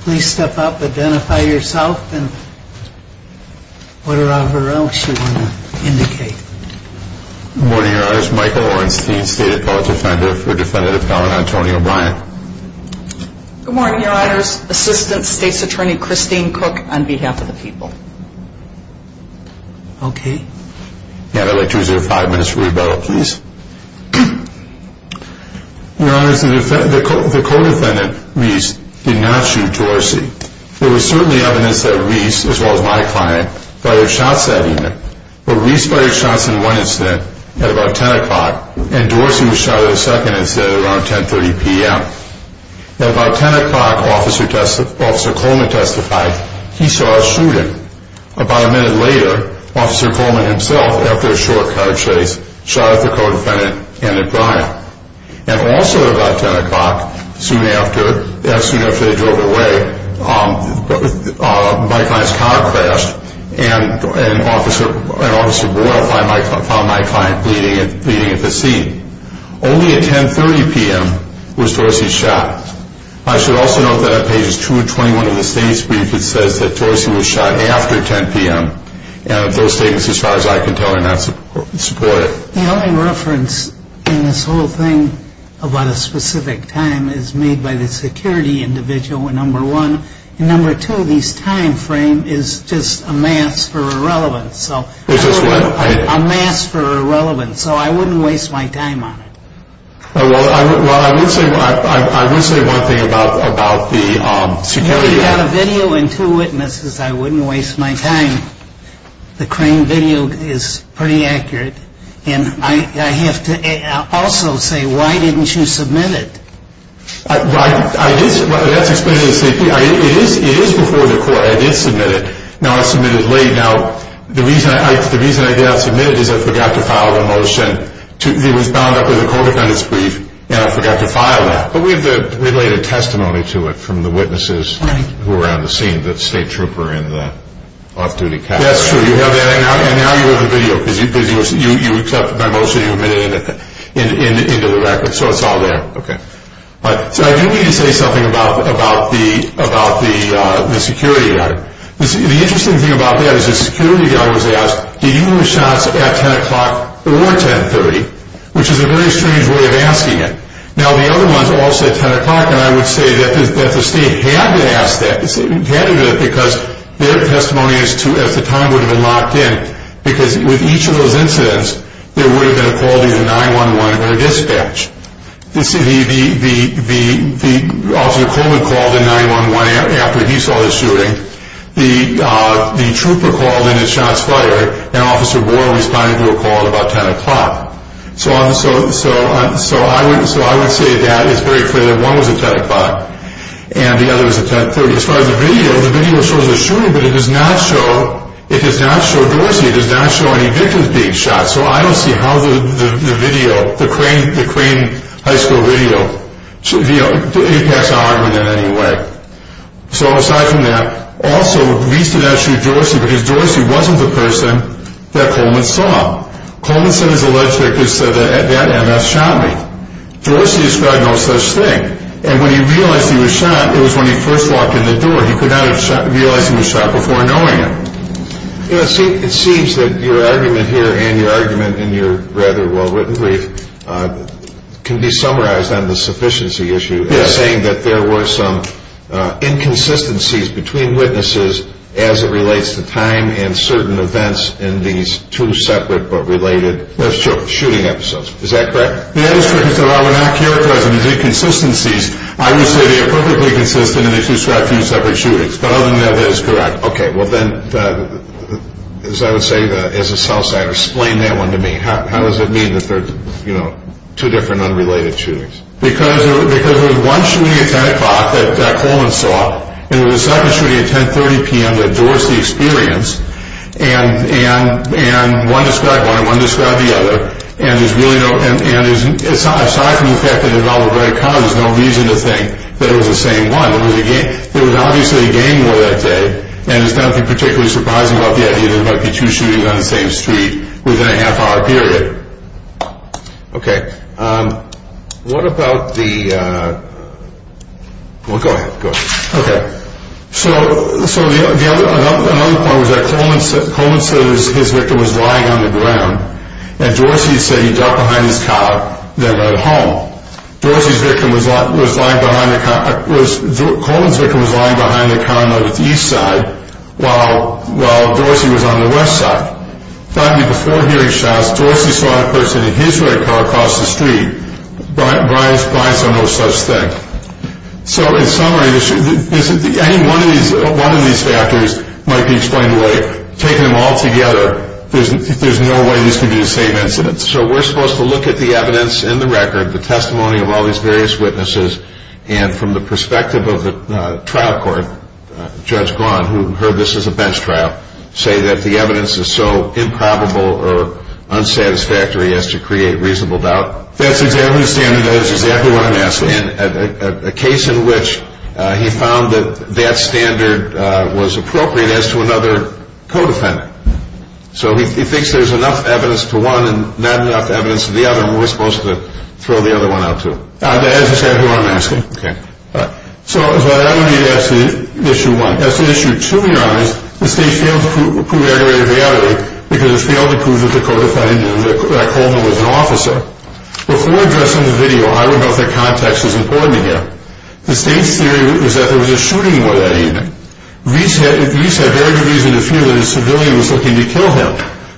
Please step up, identify yourself and whatever else you want to indicate. Good morning, your honors. Michael Orenstein, State Appellate Defender for Defendant Appellant Antonio Bryant. Good morning, your honors. Assistant State's Attorney Christine Cook on behalf of the people. Okay. Yeah, I'd like 205 minutes for rebuttal, please. Your honors, the co-defendant, Reese, did not shoot Dorsey. There was certainly evidence that Reese, as well as my client, fired shots at him. But Reese fired shots in one incident at about 10 o'clock and Dorsey was shot in the second incident at around 10.30 p.m. At about 10 o'clock, Officer Coleman testified he saw a shooting. About a minute later, Officer Coleman himself, after a short car chase, shot at the co-defendant and at Bryant. And also at about 10 o'clock, soon after they drove away, my client's car crashed and Officer Boyle found my client bleeding at the scene. Only at 10.30 p.m. was Dorsey shot. I should also note that on pages 2 and 21 of the state's brief, it says that Dorsey was shot after 10 p.m. Those statements, as far as I can tell, are not supported. The only reference in this whole thing about a specific time is made by the security individual, number one. And number two, this time frame is just a mask for irrelevance. Which is what? A mask for irrelevance. So I wouldn't waste my time on it. Well, I would say one thing about the security. If you had a video and two witnesses, I wouldn't waste my time. The crane video is pretty accurate. And I have to also say, why didn't you submit it? That's explained in the state brief. It is before the court. I did submit it. Now, I submitted it late. Now, the reason I did not submit it is I forgot to file a motion. It was bound up in the court defendant's brief, and I forgot to file that. But we have the related testimony to it from the witnesses who were on the scene. The state trooper in the off-duty cap. That's true. You have that. And now you have the video, because you accepted my motion. You admitted it into the record. So it's all there. So I do need to say something about the security guy. The interesting thing about that is the security guy was asked, did you do the shots at 10 o'clock or 1030? Which is a very strange way of asking it. Now, the other ones all said 10 o'clock, and I would say that the state had to ask that. They had to do that because their testimony at the time would have been locked in. Because with each of those incidents, there would have been a call to the 911 or dispatch. The officer called the 911 after he saw the shooting. The trooper called, and it shots fired. And Officer Boer responded to a call at about 10 o'clock. So I would say that it's very clear that one was at 10 o'clock and the other was at 1030. As far as the video, the video shows the shooting, but it does not show Dorsey. It does not show any victims being shot. So I don't see how the crane high school video impacts our argument in any way. So aside from that, also, we used to not shoot Dorsey because Dorsey wasn't the person that Coleman saw. Coleman said his alleged victim said, that MS shot me. Dorsey described no such thing. And when he realized he was shot, it was when he first walked in the door. He could not have realized he was shot before knowing it. It seems that your argument here and your argument in your rather well-written brief can be summarized on the sufficiency issue as saying that there were some inconsistencies between witnesses as it relates to time and certain events in these two separate but related shooting episodes. Is that correct? That is correct. I would not characterize them as inconsistencies. I would say they are perfectly consistent and they do describe two separate shootings. But other than that, that is correct. Okay. Well, then, as I would say, as a Southside, explain that one to me. How does it mean that there are two different unrelated shootings? Because there was one shooting at 10 o'clock that Coleman saw and there was a second shooting at 10.30 p.m. that Dorsey experienced. And one described one and one described the other. And aside from the fact that it was all very common, there is no reason to think that it was the same one. There was obviously a gang war that day. And there is nothing particularly surprising about the idea that there might be two shootings on the same street within a half-hour period. Okay. What about the... Well, go ahead. Go ahead. Okay. So another point was that Coleman said his victim was lying on the ground and Dorsey said he dropped behind his car at home. Dorsey's victim was lying behind... while Dorsey was on the west side. Finally, before hearing shots, Dorsey saw a person in his red car across the street. Brides are no such thing. So in summary, any one of these factors might be explained away. Taken them all together, there's no way these could be the same incidents. So we're supposed to look at the evidence in the record, the testimony of all these various witnesses, and from the perspective of the trial court, Judge Gawne, who heard this as a bench trial, say that the evidence is so improbable or unsatisfactory as to create reasonable doubt. That's exactly the standard. That's exactly what I'm asking. And a case in which he found that that standard was appropriate as to another co-defendant. So he thinks there's enough evidence to one and not enough evidence to the other, and we're supposed to throw the other one out too. That's exactly what I'm asking. So that would be issue one. That's issue two. The state failed to prove aggravated reality because it failed to prove that the co-defendant, that Coleman, was an officer. Before addressing the video, I would note that context is important here. The state's theory was that there was a shooting that evening. Reese had very good reason to fear that a civilian was looking to kill him.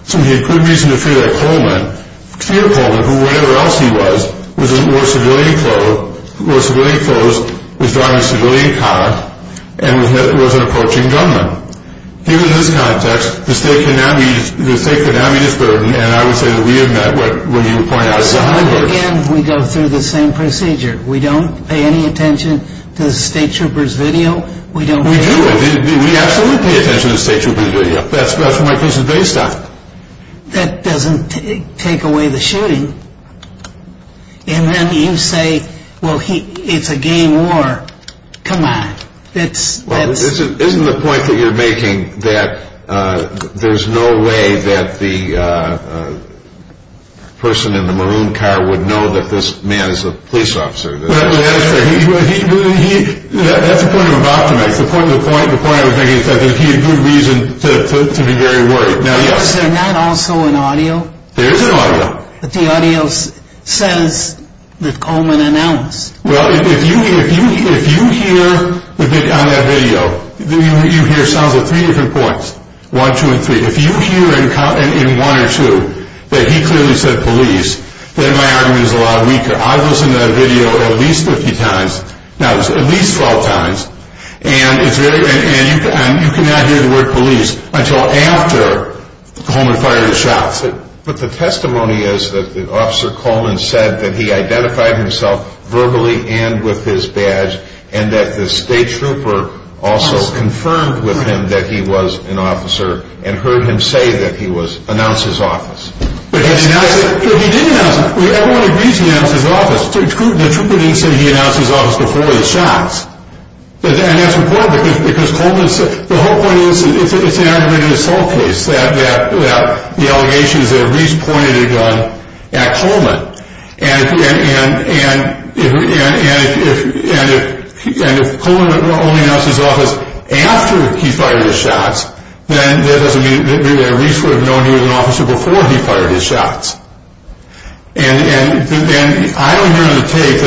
So he had good reason to fear that Coleman, who whatever else he was, was in more civilian clothes, was driving a civilian car, and was an approaching gunman. Even in this context, the state could not meet its burden, and I would say that we have met what you were pointing out. Again, we go through the same procedure. We don't pay any attention to the state trooper's video. We do. We absolutely pay attention to the state trooper's video. That's what my case is based on. That doesn't take away the shooting. And then you say, well, it's a game war. Come on. Isn't the point that you're making that there's no way that the person in the maroon car would know that this man is a police officer? That's the point I'm about to make. The point I'm making is that he had good reason to be very worried. Yes, and that also in audio. There is an audio. The audio says that Coleman announced. Well, if you hear on that video, you hear sounds of three different points, one, two, and three. If you hear in one or two that he clearly said police, then my argument is a lot weaker. I was in that video at least 15 times. No, at least 12 times. And you cannot hear the word police until after Coleman fired the shot. But the testimony is that Officer Coleman said that he identified himself verbally and with his badge and that the state trooper also confirmed with him that he was an officer and heard him say that he announced his office. Well, he did announce it. Everyone agrees he announced his office. The trooper didn't say he announced his office before the shots. And that's important because Coleman said. The whole point is that it's an argument in a cell case that the allegation is that Reese pointed a gun at Coleman. And if Coleman only announced his office after he fired the shots, then that doesn't mean that Reese would have known he was an officer before he fired his shots. And I don't hear on the tape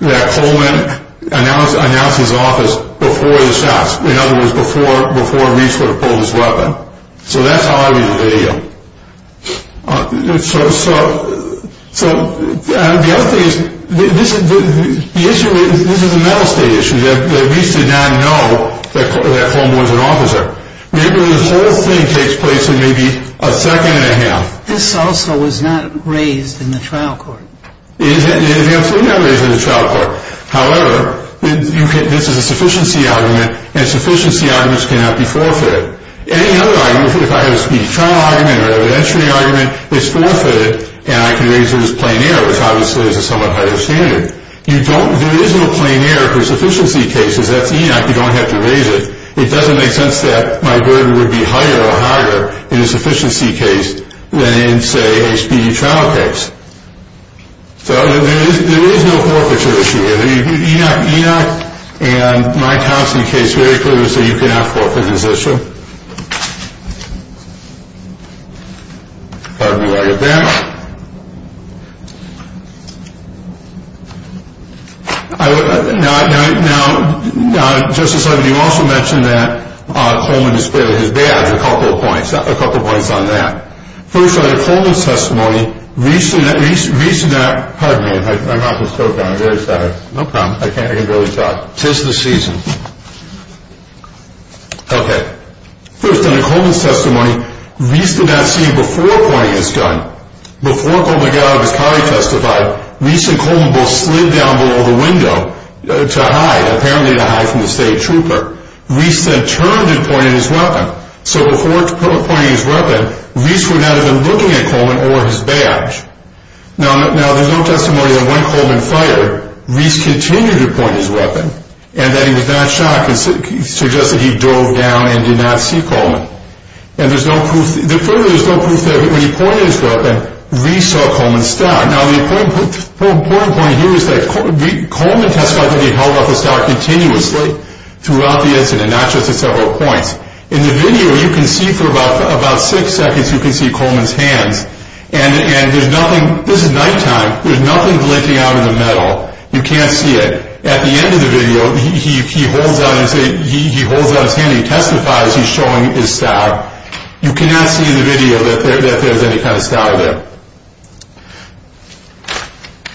that Coleman announced his office before the shots. In other words, before Reese would have pulled his weapon. So that's how I read the video. So the other thing is, this is a mental state issue. Reese did not know that Coleman was an officer. The whole thing takes place in maybe a second and a half. This also was not raised in the trial court. It absolutely was not raised in the trial court. However, this is a sufficiency argument, and sufficiency arguments cannot be forfeited. Any other argument, if I have a speedy trial argument or an evidentiary argument, is forfeited, and I can raise it as plain error, which obviously is a somewhat higher standard. There is no plain error for sufficiency cases. That's ENOC. You don't have to raise it. It doesn't make sense that my burden would be higher or higher in a sufficiency case than in, say, a speedy trial case. So there is no forfeiture issue here. So ENOC and my counseling case very clearly say you cannot forfeit this issue. Pardon me while I get back. Now, Justice Levin, you also mentioned that Coleman is clearly his dad. A couple of points on that. First, on the Coleman testimony, Reese did not – pardon me. I'm off the stove now. I'm very sorry. No problem. I can barely talk. Tis the season. Okay. First, on the Coleman testimony, Reese did not see before pointing his gun. Before Coleman got out of his car, he testified, Reese and Coleman both slid down below the window to hide, apparently to hide from the state trooper. Reese then turned and pointed his weapon. So before pointing his weapon, Reese would not have been looking at Coleman or his badge. Now, there's no testimony that when Coleman fired, Reese continued to point his weapon and that he was not shocked and suggested he dove down and did not see Coleman. And there's no proof – further, there's no proof that when he pointed his weapon, Reese saw Coleman's stock. Now, the important point here is that Coleman testified that he held off his stock continuously throughout the incident, not just at several points. In the video, you can see for about six seconds, you can see Coleman's hands. And there's nothing – this is nighttime. There's nothing blinking out of the metal. You can't see it. At the end of the video, he holds out his hand. He testifies he's showing his stock. You cannot see in the video that there's any kind of stock there.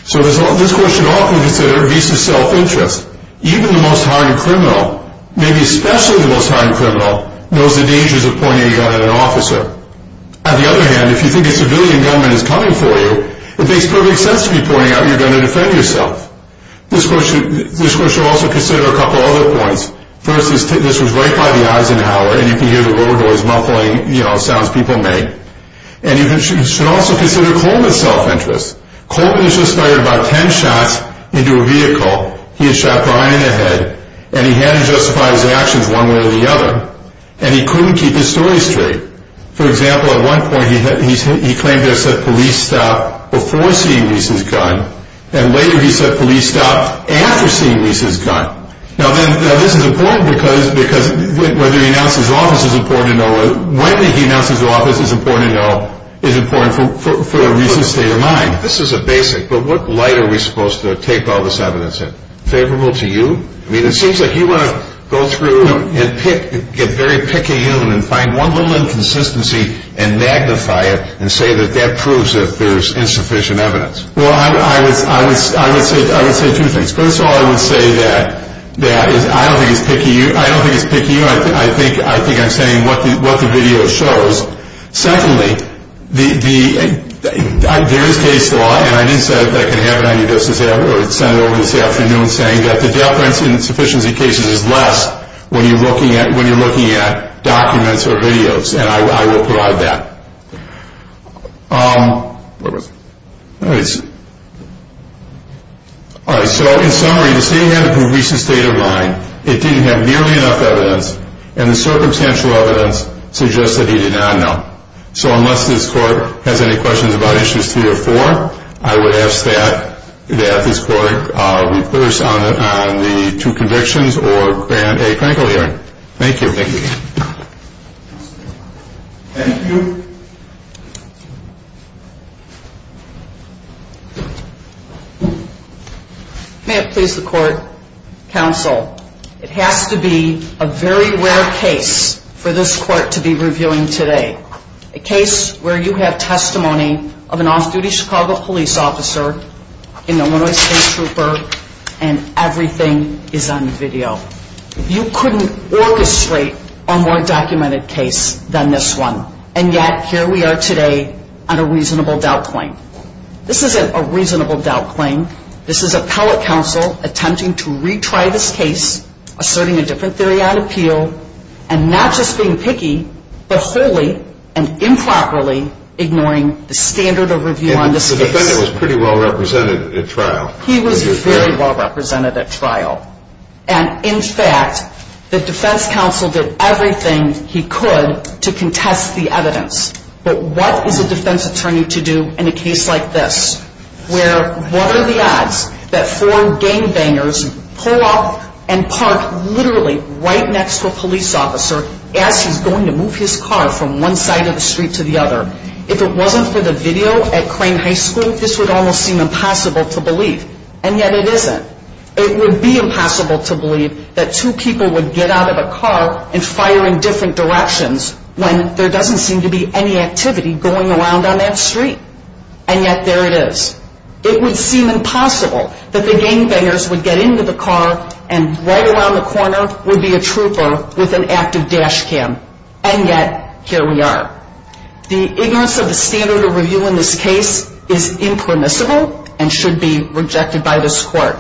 So this question often considered Reese's self-interest. Even the most hardened criminal, maybe especially the most hardened criminal, knows the dangers of pointing a gun at an officer. On the other hand, if you think a civilian gunman is coming for you, it makes perfect sense to be pointing out you're going to defend yourself. This question should also consider a couple of other points. First, this was right by the Eisenhower, and you can hear the roller doors muffling, you know, sounds people make. And you should also consider Coleman's self-interest. Coleman has just fired about ten shots into a vehicle. He had shot Brian in the head, and he had to justify his actions one way or the other. And he couldn't keep his story straight. For example, at one point, he claimed to have said police stop before seeing Reese's gun, and later he said police stop after seeing Reese's gun. Now, this is important because whether he announced his office is important to know or when he announced his office is important to know is important for Reese's state of mind. This is a basic, but what light are we supposed to take all this evidence in? Favorable to you? I mean, it seems like you want to go through and get very picayune and find one little inconsistency and magnify it and say that that proves that there's insufficient evidence. Well, I would say two things. First of all, I would say that I don't think it's picayune. I think I'm saying what the video shows. Secondly, there is case law, and I didn't say that I can have it on you just as ever. I sent it over this afternoon saying that the deference in insufficiency cases is less when you're looking at documents or videos, and I will provide that. All right, so in summary, the state of mind of Reese's state of mind, it didn't have nearly enough evidence, and the circumstantial evidence suggests that he did not know. So unless this court has any questions about issues three or four, I would ask that this court rehearse on the two convictions or grant a clinical hearing. Thank you. Thank you. May it please the court, counsel, it has to be a very rare case for this court to be reviewing today, a case where you have testimony of an off-duty Chicago police officer in Illinois State Trooper, and everything is on video. You couldn't orchestrate a more documented case than this one, and yet here we are today on a reasonable doubt claim. This isn't a reasonable doubt claim. This is appellate counsel attempting to retry this case, asserting a different theory on appeal, and not just being picky, but wholly and improperly ignoring the standard of review on this case. The defendant was pretty well represented at trial. He was very well represented at trial. And in fact, the defense counsel did everything he could to contest the evidence. But what is a defense attorney to do in a case like this, where what are the odds that four gangbangers pull up and park literally right next to a police officer as he's going to move his car from one side of the street to the other? If it wasn't for the video at Crane High School, this would almost seem impossible to believe. And yet it isn't. It would be impossible to believe that two people would get out of a car and fire in different directions when there doesn't seem to be any activity going around on that street. And yet there it is. It would seem impossible that the gangbangers would get into the car and right around the corner would be a trooper with an active dash cam. And yet, here we are. The ignorance of the standard of review in this case is impermissible and should be rejected by this court.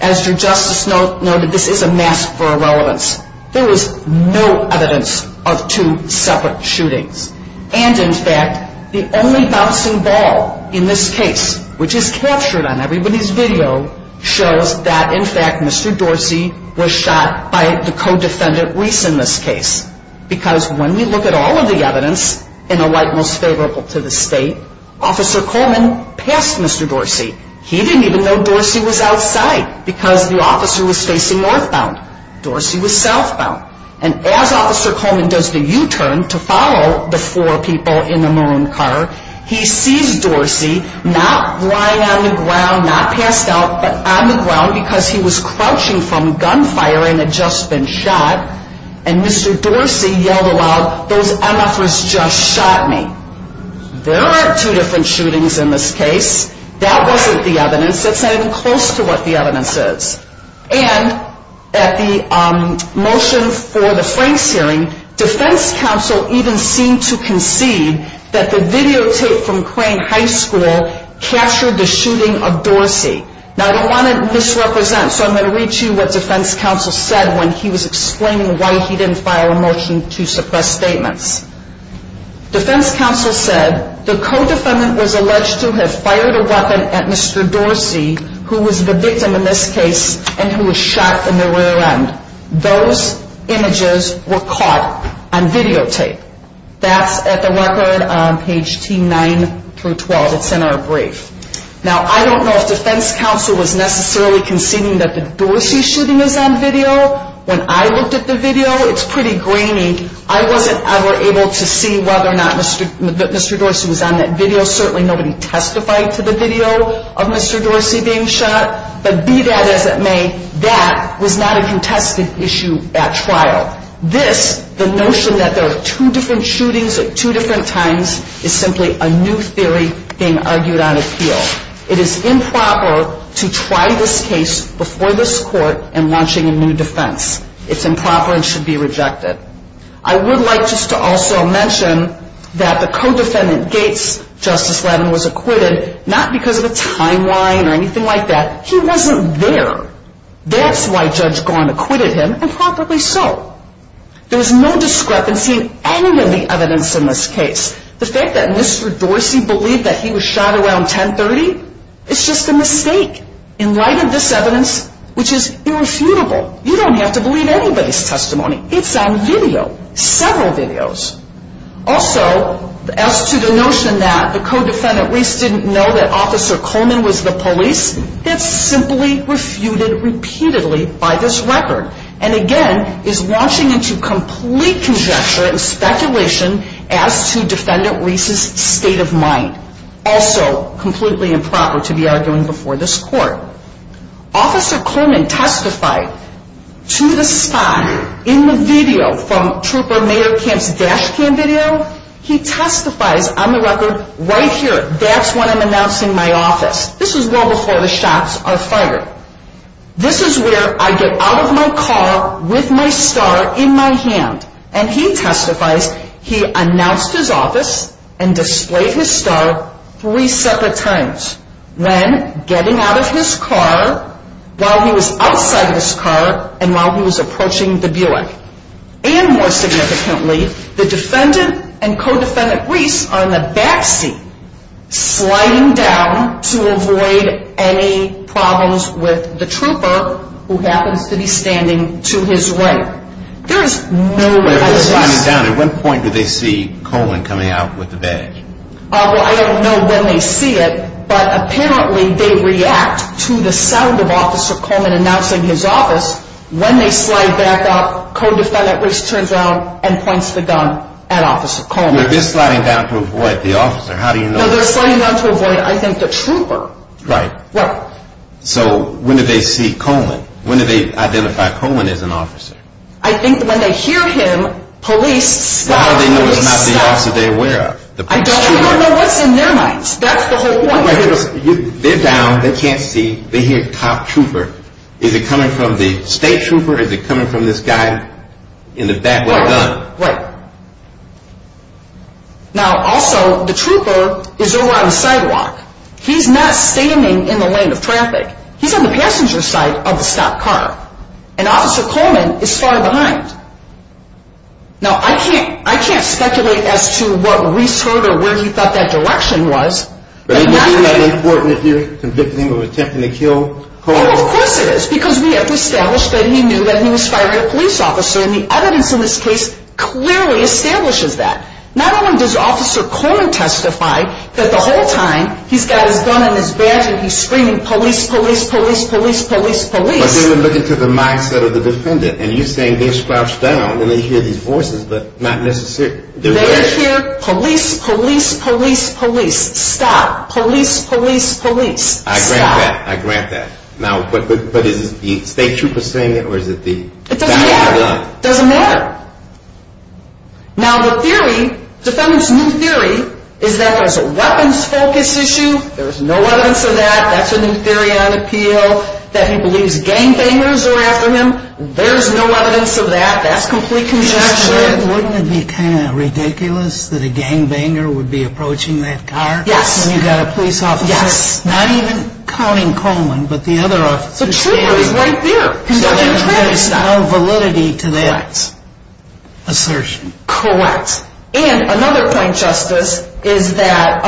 As your justice noted, this is a mask for irrelevance. There is no evidence of two separate shootings. And, in fact, the only bouncing ball in this case, which is captured on everybody's video, shows that, in fact, Mr. Dorsey was shot by the co-defendant, Reese, in this case. Because when we look at all of the evidence in the light most favorable to the state, Officer Coleman passed Mr. Dorsey. He didn't even know Dorsey was outside because the officer was facing northbound. Dorsey was southbound. And as Officer Coleman does the U-turn to follow the four people in the maroon car, he sees Dorsey not lying on the ground, not passed out, but on the ground because he was crouching from gunfire and had just been shot. And Mr. Dorsey yelled aloud, those MFers just shot me. There are two different shootings in this case. That wasn't the evidence. That's not even close to what the evidence is. And at the motion for the Franks hearing, defense counsel even seemed to concede that the videotape from Crane High School captured the shooting of Dorsey. Now, I don't want to misrepresent, so I'm going to read you what defense counsel said when he was explaining why he didn't file a motion to suppress statements. Defense counsel said, the co-defendant was alleged to have fired a weapon at Mr. Dorsey, who was the victim in this case and who was shot in the rear end. Those images were caught on videotape. That's at the record on page T9 through 12. It's in our brief. Now, I don't know if defense counsel was necessarily conceding that the Dorsey shooting is on video. When I looked at the video, it's pretty grainy. I wasn't ever able to see whether or not Mr. Dorsey was on that video. Certainly nobody testified to the video of Mr. Dorsey being shot. But be that as it may, that was not a contested issue at trial. This, the notion that there are two different shootings at two different times, is simply a new theory being argued on appeal. It is improper to try this case before this court in launching a new defense. It's improper and should be rejected. I would like just to also mention that the co-defendant Gates, Justice Lattin, was acquitted, not because of a timeline or anything like that. He wasn't there. That's why Judge Garn acquitted him, and probably so. There's no discrepancy in any of the evidence in this case. The fact that Mr. Dorsey believed that he was shot around 1030, it's just a mistake. In light of this evidence, which is irrefutable, you don't have to believe anybody's testimony. It's on video, several videos. Also, as to the notion that the co-defendant Reese didn't know that Officer Coleman was the police, it's simply refuted repeatedly by this record, and again is launching into complete conjecture and speculation as to Defendant Reese's state of mind. Also completely improper to be arguing before this court. Officer Coleman testified to the spot in the video from Trooper Mayorkamp's dash cam video. He testifies on the record right here. That's when I'm announcing my office. This is well before the shots are fired. This is where I get out of my car with my star in my hand, and he testifies he announced his office and displayed his star three separate times. When getting out of his car, while he was outside of his car, and while he was approaching the Buick. And more significantly, the defendant and co-defendant Reese are in the back seat, sliding down to avoid any problems with the trooper, who happens to be standing to his right. There is no evidence. At what point do they see Coleman coming out with the badge? I don't know when they see it, but apparently they react to the sound of Officer Coleman announcing his office. When they slide back up, co-defendant Reese turns around and points the gun at Officer Coleman. They're just sliding down to avoid the officer. How do you know? They're sliding down to avoid, I think, the trooper. Right. Right. So when do they see Coleman? When do they identify Coleman as an officer? I think when they hear him, police stop. How do they know it's not the officer they're aware of? I don't know what's in their minds. That's the whole point. They're down. They can't see. They hear cop trooper. Is it coming from the state trooper? Is it coming from this guy in the back with a gun? Right. Now, also, the trooper is over on the sidewalk. He's not standing in the lane of traffic. He's on the passenger side of the stopped car. And Officer Coleman is far behind. Now, I can't speculate as to what Reese heard or where he thought that direction was. But isn't that important if you're convicting him of attempting to kill Coleman? Well, of course it is because we have established that he knew that he was firing a police officer. And the evidence in this case clearly establishes that. Not only does Officer Coleman testify that the whole time he's got his gun in his badge and he's screaming, police, police, police, police, police, police. But they were looking to the mindset of the defendant. And you're saying they're scrouched down and they hear these voices, but not necessarily. They hear police, police, police, police, stop, police, police, police, stop. I grant that. I grant that. Now, but is the state trooper saying it or is it the guy with the gun? It doesn't matter. It doesn't matter. Now, the theory, defendant's new theory, is that there's a weapons focus issue. There's no evidence of that. That's a new theory on appeal, that he believes gangbangers are after him. There's no evidence of that. That's complete conjecture. Wouldn't it be kind of ridiculous that a gangbanger would be approaching that car? Yes. When you've got a police officer, not even counting Coleman, but the other officer standing there. The trooper is right there. There's no validity to that assertion. Correct. And another point, Justice, is that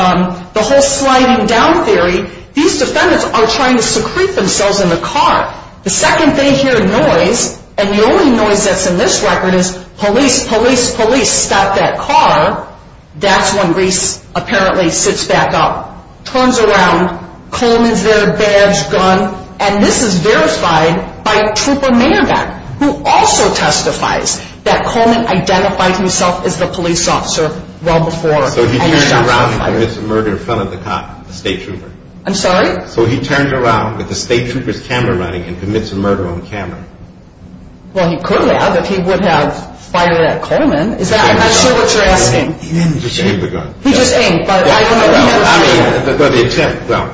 the whole sliding down theory, these defendants are trying to secrete themselves in the car. The second they hear noise, and the only noise that's in this record is police, police, police, stop that car, that's when Reese apparently sits back up, turns around, Coleman's there, badge, gun, and this is verified by Trooper Mayerbeck, who also testifies that Coleman identified himself as the police officer well before. So he turned around and commits a murder in front of the cop, the state trooper. I'm sorry? So he turned around with the state trooper's camera running and commits a murder on camera. Well, he could have if he would have fired at Coleman. I'm not sure what you're asking. He didn't just aim the gun. He just aimed, but I don't know. The attempt, well,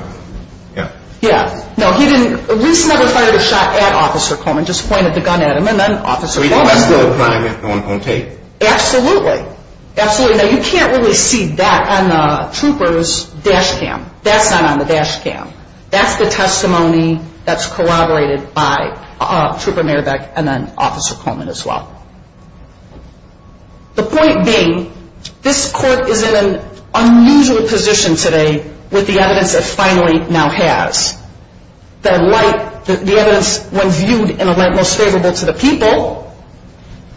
yeah. Yeah. No, he didn't. Reese never fired a shot at Officer Coleman, just pointed the gun at him, and then Officer Coleman. That's no crime no one can take. Absolutely. Absolutely. Now, you can't really see that on the trooper's dash cam. That's not on the dash cam. That's the testimony that's corroborated by Trooper Mayerbeck and then Officer Coleman as well. The point being, this court is in an unusual position today with the evidence it finally now has. The evidence, when viewed in a light most favorable to the people,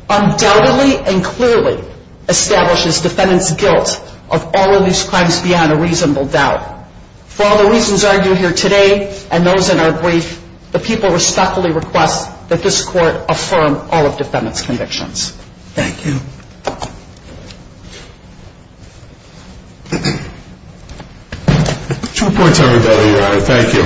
undoubtedly and clearly establishes defendants' guilt of all of these crimes beyond a reasonable doubt. For all the reasons argued here today and those in our brief, the people respectfully request that this court affirm all of defendants' convictions. Thank you. Two points I would add, Your Honor. Thank you.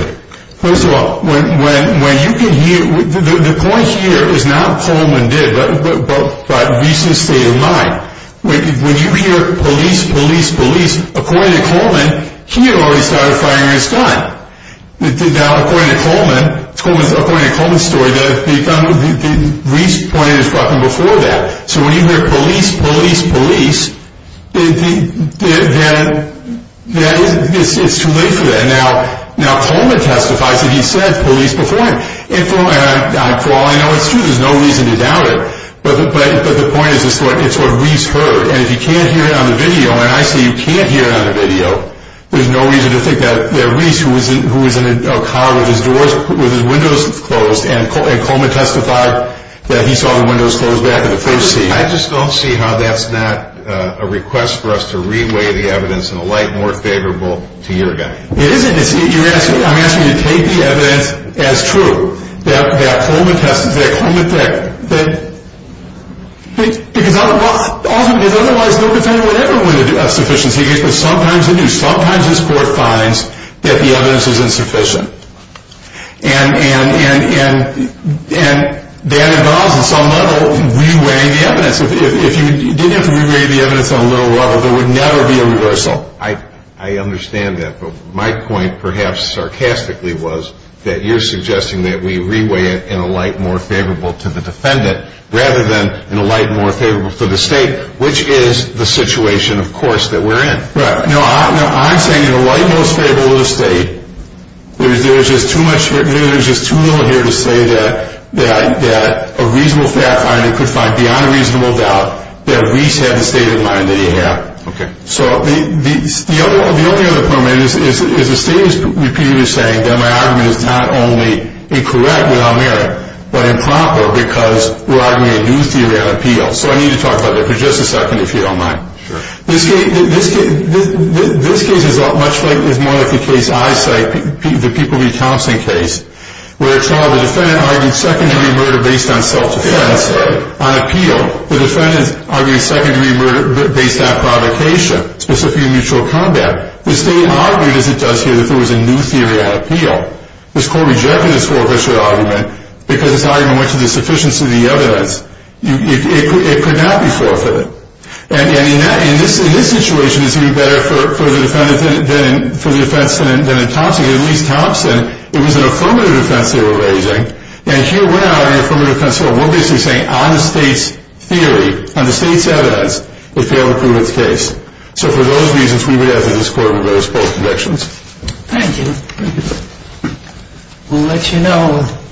First of all, when you can hear, the point here is not Coleman did, but Reese's state of mind. When you hear police, police, police, according to Coleman, he had already started firing his gun. According to Coleman's story, Reese pointed his weapon before that. So when you hear police, police, police, it's too late for that. Now, Coleman testifies that he said police before him. For all I know, it's true. There's no reason to doubt it. But the point is it's what Reese heard. And if you can't hear it on the video, and I say you can't hear it on the video, there's no reason to think that Reese, who was in a car with his doors, with his windows closed, and Coleman testified that he saw the windows closed back in the first scene. I just don't see how that's not a request for us to reweigh the evidence in a light more favorable to your guy. It isn't. I'm asking you to take the evidence as true, that Coleman testified, that Coleman said. Because otherwise, no defendant would ever win a sufficiency case, but sometimes they do. Sometimes this court finds that the evidence is insufficient. And that involves, at some level, reweighing the evidence. If you didn't have to reweigh the evidence on a low level, there would never be a reversal. I understand that, but my point, perhaps sarcastically, was that you're suggesting that we reweigh it in a light more favorable to the defendant rather than in a light more favorable to the state, which is the situation, of course, that we're in. Right. No, I'm saying in a light more favorable to the state, there's just too little here to say that a reasonable fact finder could find beyond a reasonable doubt that Reese had the state of mind that he had. Okay. So the only other comment is the state is repeatedly saying that my argument is not only incorrect without merit, but improper because we're arguing a news theory on appeal. So I need to talk about that for just a second, if you don't mind. Sure. This case is much like the case I cite, the People v. Thompson case, where it's not the defendant arguing secondary murder based on self-defense on appeal. The defendant is arguing secondary murder based on provocation, specifically mutual combat. The state argued, as it does here, that there was a news theory on appeal. This court rejected this forfeiture argument because this argument went to the sufficiency of the evidence. It could not be forfeited. And in this situation, it's even better for the defense than in Thompson. At least Thompson, it was an affirmative defense they were raising. And here we are in affirmative counsel. We're basically saying on the state's theory, on the state's evidence, we failed to prove its case. So for those reasons, we would ask that this court reverse both directions. Thank you. Thank you. We'll let you know.